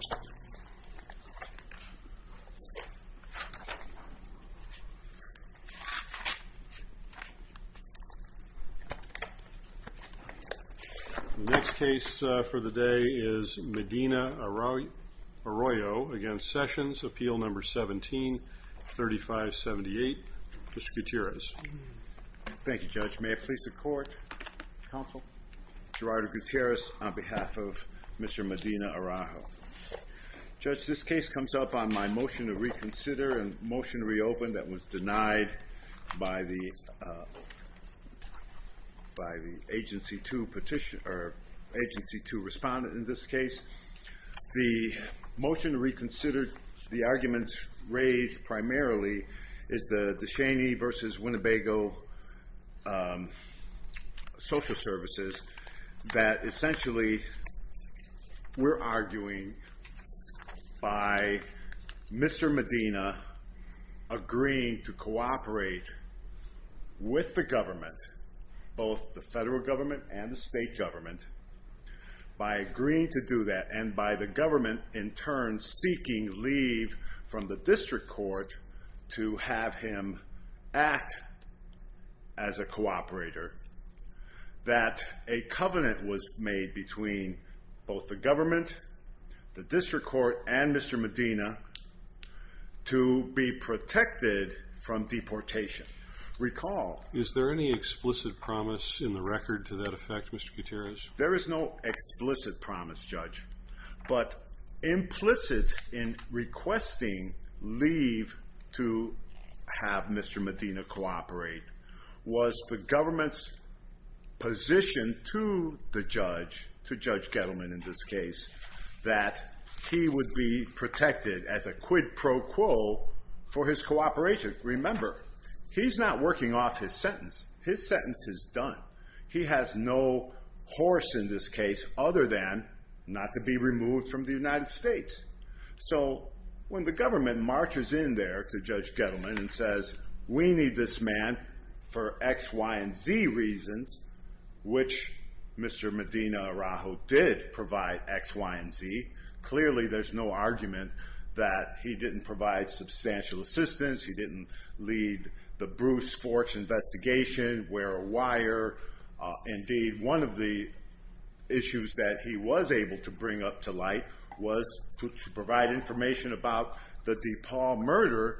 The next case for the day is Medina-Araujo v. Sessions, Appeal No. 17-3578. Mr. Gutierrez. Thank you, Judge. May it please the Court, Counsel, Gerardo Gutierrez, on behalf of Mr. Medina-Araujo. Judge, this case comes up on my motion to reconsider and motion to reopen that was denied by the Agency 2 respondent in this case. The motion to reconsider the arguments raised primarily is the Descheny v. Winnebago social services that essentially we're arguing by Mr. Medina agreeing to cooperate with the government, both the federal government and the state government, by agreeing to do that and by the government in turn seeking leave from the district court to have him act as a cooperator that a covenant was made between both the government, the district court, and Mr. Medina to be protected from deportation. Recall. Is there any explicit promise in the record to that effect, Mr. Gutierrez? There is no explicit promise, Judge, but implicit in requesting leave to have Mr. Medina cooperate was the government's position to the judge, to Judge Gettleman in this case, that he would be protected as a quid pro quo for his cooperation. Remember, he's not working off his sentence. His sentence is done. He has no horse in this case other than not to be removed from the United States. So when the government marches in there to Judge Gettleman and says, we need this man for X, Y, and Z reasons, which Mr. Medina-Araujo did provide X, Y, and Z, clearly there's no argument that he didn't provide substantial assistance. He didn't lead the Bruce Forch investigation, wear a wire. Indeed, one of the issues that he was able to bring up to light was to provide information about the DePaul murder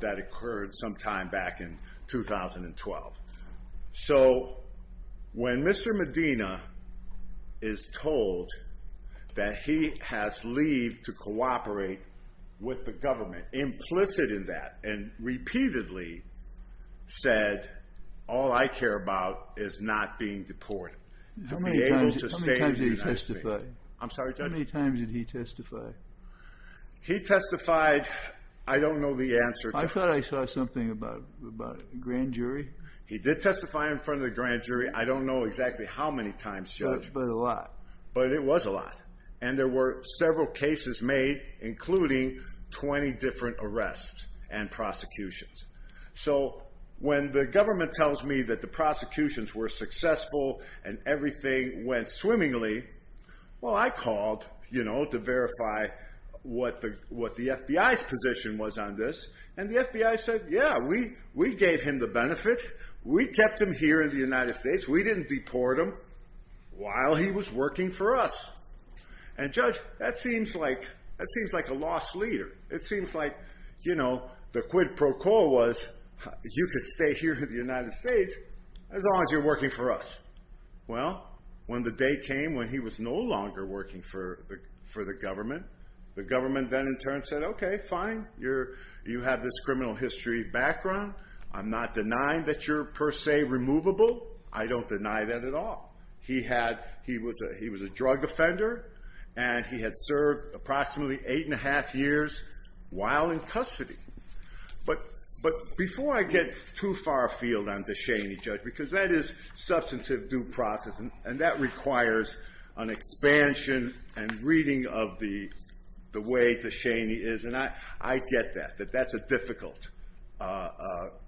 that occurred sometime back in 2012. So when Mr. Medina is told that he has leave to cooperate with the government, implicit in that, and repeatedly said, all I care about is not being deported, to be able to stay in the United States- How many times did he testify? I'm sorry, Judge? How many times did he testify? He testified. I don't know the answer. I thought I saw something about a grand jury. He did testify in front of the grand jury. I don't know exactly how many times, Judge. But a lot. But it was a lot. And there were several cases made, including 20 different arrests and prosecutions. So when the government tells me that the prosecutions were successful and everything went swimmingly, well, I called to verify what the FBI's position was on this. And the FBI said, yeah, we gave him the benefit. We kept him here in the United States. We didn't deport him while he was working for us. And, Judge, that seems like a lost leader. It seems like the quid pro quo was, you could stay here in the United States as long as you're working for us. Well, when the day came when he was no longer working for the government, the government then in turn said, okay, fine, you have this criminal history background. I'm not denying that you're per se removable. I don't deny that at all. He was a drug offender, and he had served approximately eight and a half years while in custody. But before I get too far afield on DeShaney, Judge, because that is substantive due process, and that requires an expansion and reading of the way DeShaney is. And I get that, that that's a difficult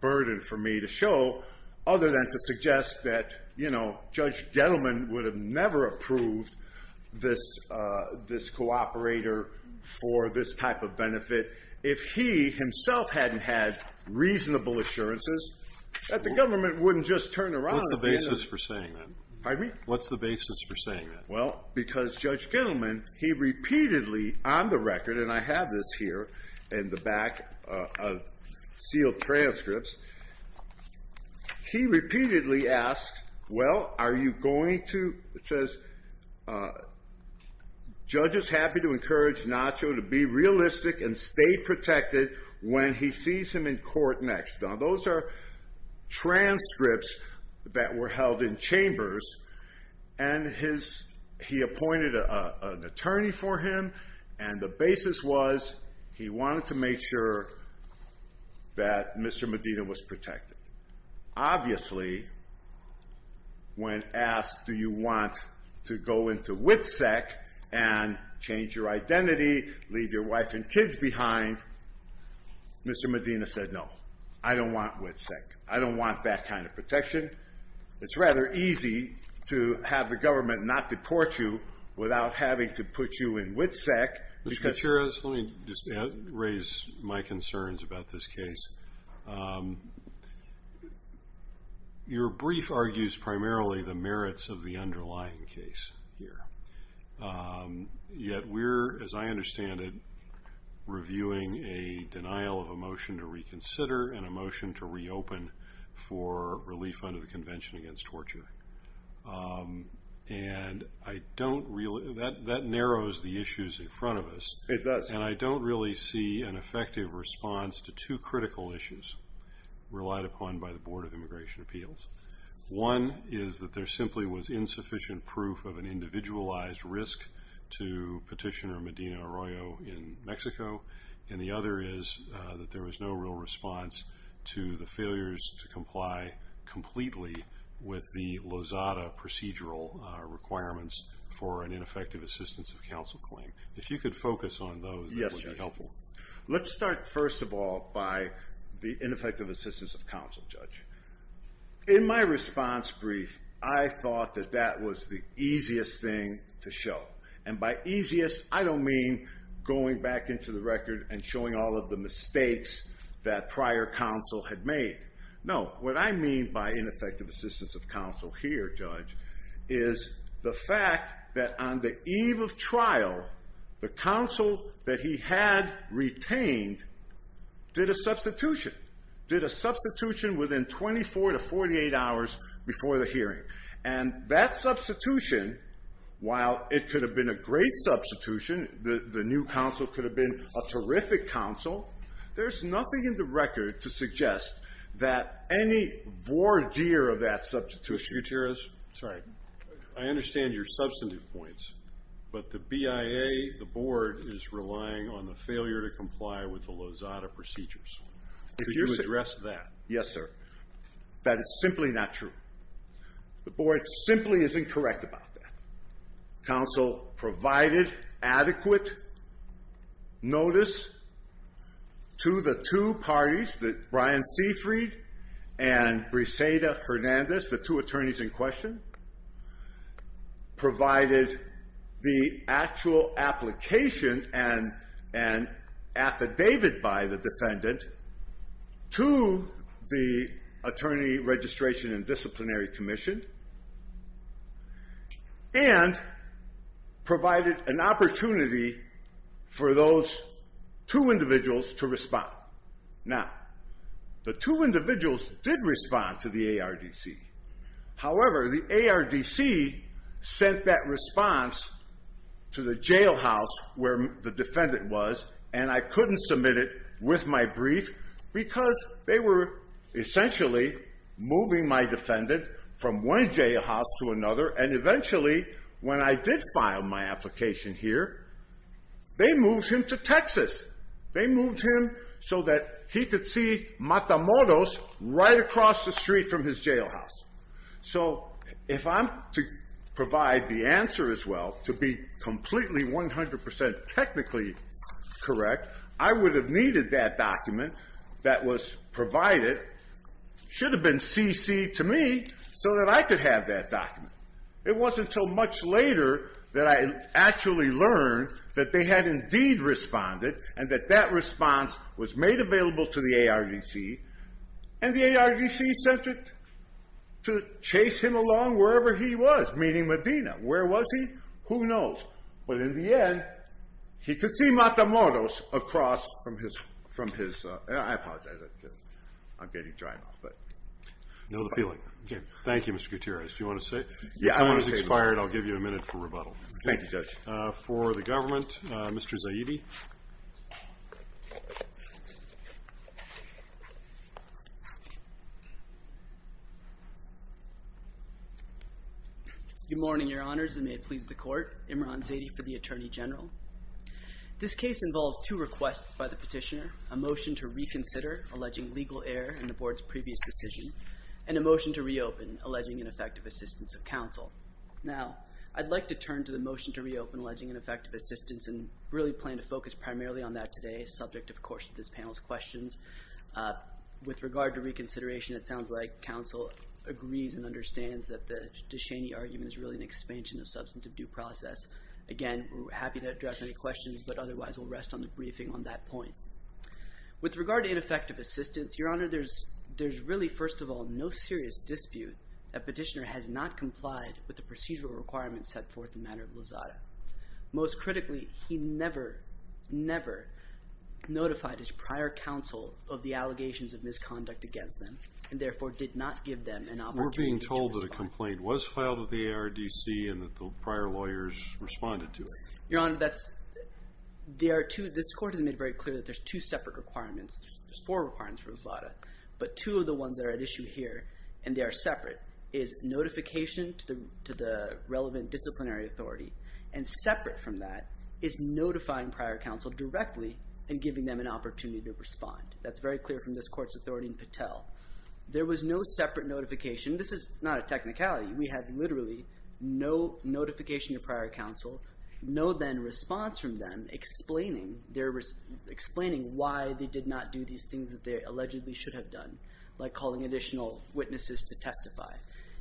burden for me to show, other than to suggest that, you know, Judge Gettleman would have never approved this cooperator for this type of benefit if he himself hadn't had reasonable assurances that the government wouldn't just turn around. What's the basis for saying that? Pardon me? What's the basis for saying that? Well, because Judge Gettleman, he repeatedly on the record, and I have this here in the back of sealed transcripts, he repeatedly asked, well, are you going to, it says, Judge is happy to encourage Nacho to be realistic and stay protected when he sees him in court next. Now, those are transcripts that were held in chambers, and his, he appointed an attorney for him, and the basis was he wanted to make sure that Mr. Medina was protected. Obviously, when asked, do you want to go into WITSEC and change your identity, leave your wife and kids behind, Mr. Medina said, no, I don't want WITSEC. I don't want that kind of protection. It's rather easy to have the government not deport you without having to put you in WITSEC. Let me just raise my concerns about this case. Your brief argues primarily the merits of the underlying case here. Yet we're, as I understand it, reviewing a denial of a motion to reconsider and a motion to reopen for relief under the Convention Against Torture. And I don't really, that narrows the issues in front of us. It does. And I don't really see an effective response to two critical issues relied upon by the Board of Immigration Appeals. One is that there simply was insufficient proof of an individualized risk to Petitioner Medina Arroyo in Mexico. And the other is that there was no real response to the failures to comply completely with the Lozada procedural requirements for an ineffective assistance of counsel claim. If you could focus on those, that would be helpful. Let's start, first of all, by the ineffective assistance of counsel, Judge. In my response brief, I thought that that was the easiest thing to show. And by easiest, I don't mean going back into the record and showing all of the mistakes that prior counsel had made. No, what I mean by ineffective assistance of counsel here, Judge, is the fact that on the eve of trial, the counsel that he had retained did a substitution. Did a substitution within 24 to 48 hours before the hearing. And that substitution, while it could have been a great substitution, the new counsel could have been a terrific counsel, there's nothing in the record to suggest that any voir dire of that substitution. Mr. Gutierrez? Sorry. I understand your substantive points, but the BIA, the Board, is relying on the failure to comply with the Lozada procedures. Could you address that? Yes, sir. That is simply not true. The Board simply is incorrect about that. Counsel provided adequate notice to the two parties, the Brian Seyfried and Briseida Hernandez, the two attorneys in question, provided the actual application and affidavit by the defendant to the Attorney Registration and Disciplinary Commission, and provided an opportunity for those two individuals to respond. Now, the two individuals did respond to the ARDC. However, the ARDC sent that response to the jailhouse where the defendant was, and I couldn't submit it with my brief because they were essentially moving my defendant from one jailhouse to another, and eventually, when I did file my application here, they moved him to Texas. They moved him so that he could see Matamoros right across the street from his jailhouse. So if I'm to provide the answer as well, to be completely 100% technically correct, I would have needed that document that was provided, should have been CC'd to me, so that I could have that document. It wasn't until much later that I actually learned that they had indeed responded, and that that response was made available to the ARDC, and the ARDC sent it to chase him along wherever he was, meaning Medina. Where was he? Who knows. But in the end, he could see Matamoros across from his – I apologize. I'm getting dry mouth, but. I know the feeling. Okay. Thank you, Mr. Gutierrez. Do you want to say? Your time has expired. I'll give you a minute for rebuttal. Thank you, Judge. For the government, Mr. Zaidi. Good morning, Your Honors, and may it please the Court. Imran Zaidi for the Attorney General. This case involves two requests by the petitioner, a motion to reconsider, alleging legal error in the Board's previous decision, and a motion to reopen, alleging ineffective assistance of counsel. Now, I'd like to turn to the motion to reopen, alleging ineffective assistance, and really plan to focus primarily on that today, subject, of course, to this panel's questions. With regard to reconsideration, it sounds like counsel agrees and understands that the DeShaney argument is really an expansion of substantive due process. Again, we're happy to address any questions, but otherwise we'll rest on the briefing on that point. With regard to ineffective assistance, Your Honor, there's really, first of all, no serious dispute that petitioner has not complied with the procedural requirements set forth in the matter of Lozada. Most critically, he never, never notified his prior counsel of the allegations of misconduct against them, and therefore did not give them an opportunity to respond. Your Honor, this Court has made very clear that there's two separate requirements. There's four requirements for Lozada, but two of the ones that are at issue here, and they are separate, is notification to the relevant disciplinary authority, and separate from that is notifying prior counsel directly and giving them an opportunity to respond. That's very clear from this Court's authority in Patel. This is not a technical issue. On technicality, we have literally no notification to prior counsel, no then response from them explaining why they did not do these things that they allegedly should have done, like calling additional witnesses to testify.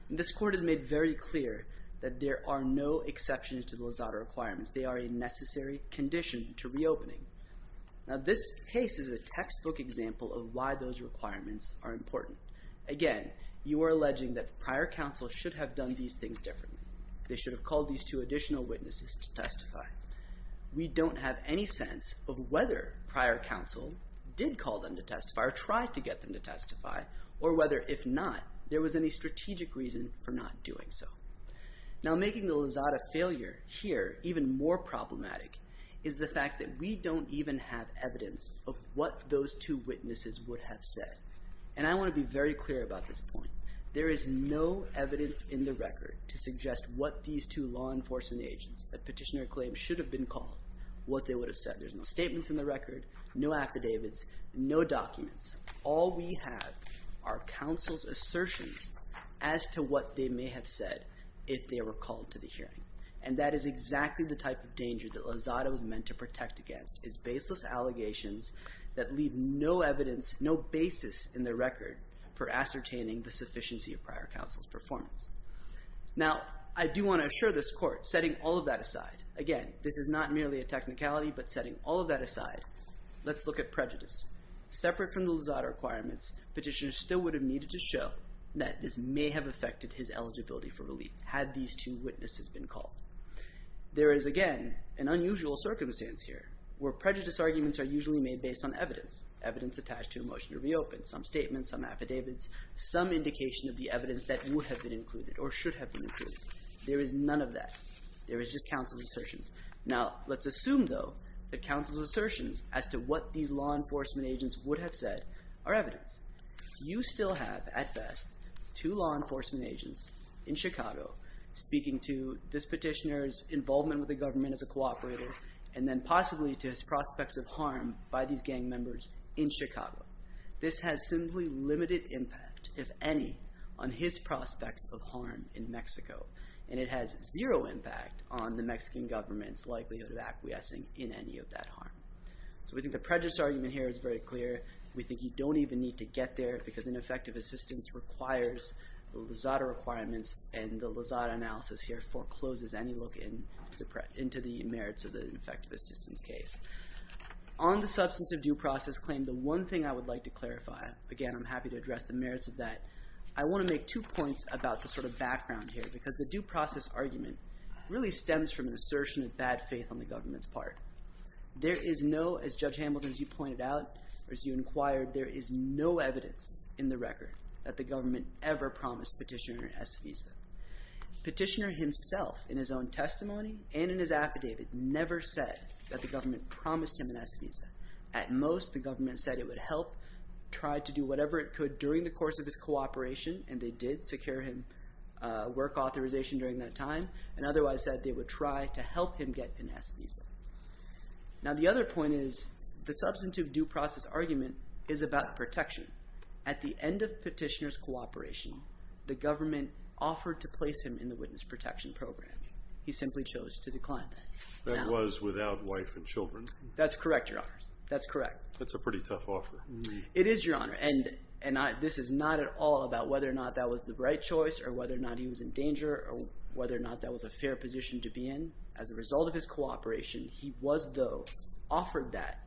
This Court has made very clear that there are no exceptions to the Lozada requirements. They are a necessary condition to reopening. Now, this case is a textbook example of why those requirements are important. Again, you are alleging that prior counsel should have done these things differently. They should have called these two additional witnesses to testify. We don't have any sense of whether prior counsel did call them to testify or tried to get them to testify, or whether, if not, there was any strategic reason for not doing so. Now, making the Lozada failure here even more problematic is the fact that we don't even have evidence of what those two witnesses would have said, and I want to be very clear about this point. There is no evidence in the record to suggest what these two law enforcement agents, that petitioner claims should have been called, what they would have said. There's no statements in the record, no affidavits, no documents. All we have are counsel's assertions as to what they may have said if they were called to the hearing, and that is exactly the type of danger that Lozada was meant to protect against, is baseless allegations that leave no evidence, no basis in the record for ascertaining the sufficiency of prior counsel's performance. Now, I do want to assure this Court, setting all of that aside, again, this is not merely a technicality, but setting all of that aside, let's look at prejudice. Separate from the Lozada requirements, petitioners still would have needed to show that this may have affected his eligibility for relief had these two witnesses been called. There is, again, an unusual circumstance here where prejudice arguments are usually made based on evidence, evidence attached to a motion to reopen, some statements, some affidavits, some indication of the evidence that would have been included or should have been included. There is none of that. There is just counsel's assertions. Now, let's assume, though, that counsel's assertions as to what these law enforcement agents would have said are evidence. You still have, at best, two law enforcement agents in Chicago speaking to this petitioner's involvement with the government as a cooperator and then possibly to his prospects of harm by these gang members in Chicago. This has simply limited impact, if any, on his prospects of harm in Mexico, and it has zero impact on the Mexican government's likelihood of acquiescing in any of that harm. So we think the prejudice argument here is very clear. We think you don't even need to get there because ineffective assistance requires the Lozada requirements and the Lozada analysis here forecloses any look into the merits of the ineffective assistance case. On the substance of due process claim, the one thing I would like to clarify, again, I'm happy to address the merits of that. I want to make two points about the sort of background here because the due process argument really stems from an assertion of bad faith on the government's part. There is no, as Judge Hamilton, as you pointed out, or as you inquired, there is no evidence in the record that the government ever promised petitioner an S visa. Petitioner himself in his own testimony and in his affidavit never said that the government promised him an S visa. At most, the government said it would help try to do whatever it could during the course of his cooperation, and they did secure him work authorization during that time, and otherwise said they would try to help him get an S visa. Now, the other point is the substantive due process argument is about protection. At the end of petitioner's cooperation, the government offered to place him in the witness protection program. He simply chose to decline that. That was without wife and children. That's correct, Your Honors. That's correct. That's a pretty tough offer. It is, Your Honor, and this is not at all about whether or not that was the right choice or whether or not he was in danger or whether or not that was a fair position to be in. As a result of his cooperation, he was, though, offered that.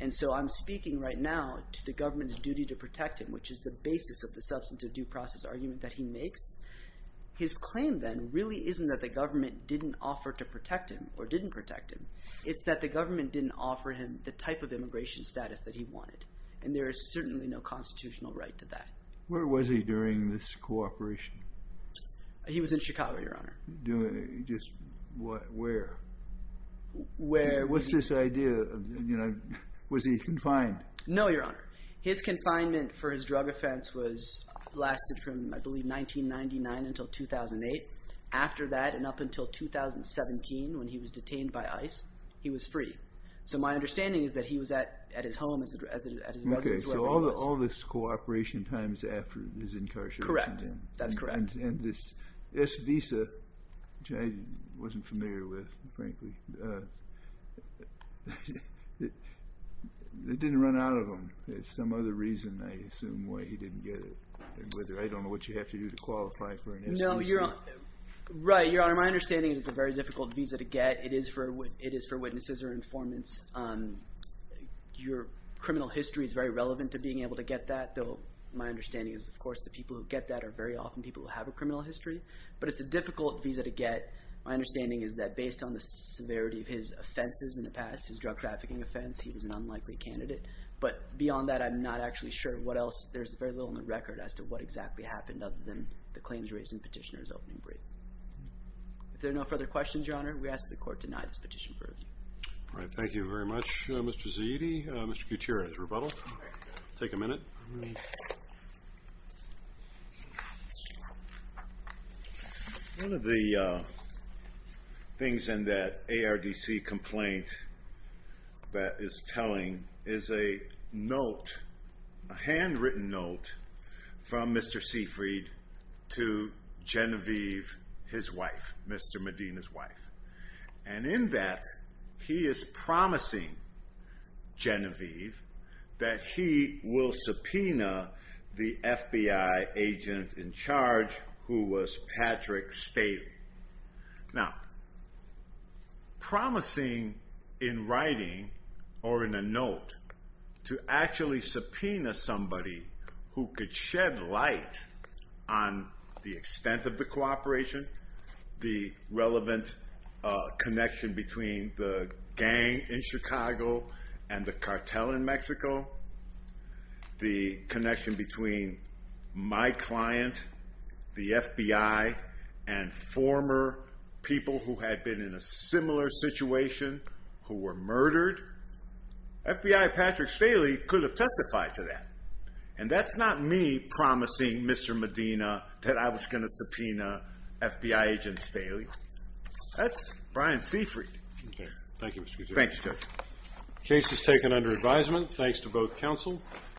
And so I'm speaking right now to the government's duty to protect him, which is the basis of the substantive due process argument that he makes. His claim then really isn't that the government didn't offer to protect him or didn't protect him. It's that the government didn't offer him the type of immigration status that he wanted, and there is certainly no constitutional right to that. He was in Chicago, Your Honor. Just where? Where? What's this idea? Was he confined? No, Your Honor. His confinement for his drug offense lasted from, I believe, 1999 until 2008. After that and up until 2017 when he was detained by ICE, he was free. So my understanding is that he was at his home, at his residence, wherever he was. Okay, so all this cooperation times after his incarceration. Correct. That's correct. And this S visa, which I wasn't familiar with, frankly. It didn't run out of him. There's some other reason, I assume, why he didn't get it. I don't know what you have to do to qualify for an S visa. No, Your Honor. Right, Your Honor. My understanding is it's a very difficult visa to get. It is for witnesses or informants. Your criminal history is very relevant to being able to get that. My understanding is, of course, the people who get that are very often people who have a criminal history. But it's a difficult visa to get. My understanding is that based on the severity of his offenses in the past, his drug trafficking offense, he was an unlikely candidate. But beyond that, I'm not actually sure what else. There's very little on the record as to what exactly happened other than the claims raised in Petitioner's opening brief. If there are no further questions, Your Honor, we ask that the Court deny this petition for review. All right, thank you very much, Mr. Zaidi. Mr. Gutierrez, rebuttal. Take a minute. One of the things in that ARDC complaint that is telling is a note, a handwritten note, from Mr. Seyfried to Genevieve, his wife, Mr. Medina's wife. And in that, he is promising Genevieve that he will subpoena the FBI agent in charge, who was Patrick Staley. Now, promising in writing, or in a note, to actually subpoena somebody who could shed light on the extent of the cooperation, the relevant connection between the gang in Chicago and the cartel in Mexico, the connection between my client, the FBI, and former people who had been in a similar situation who were murdered. FBI Patrick Staley could have testified to that. And that's not me promising Mr. Medina that I was going to subpoena FBI agent Staley. That's Brian Seyfried. Okay, thank you, Mr. Gutierrez. Thanks, Judge. Case is taken under advisement. Thanks to both counsel.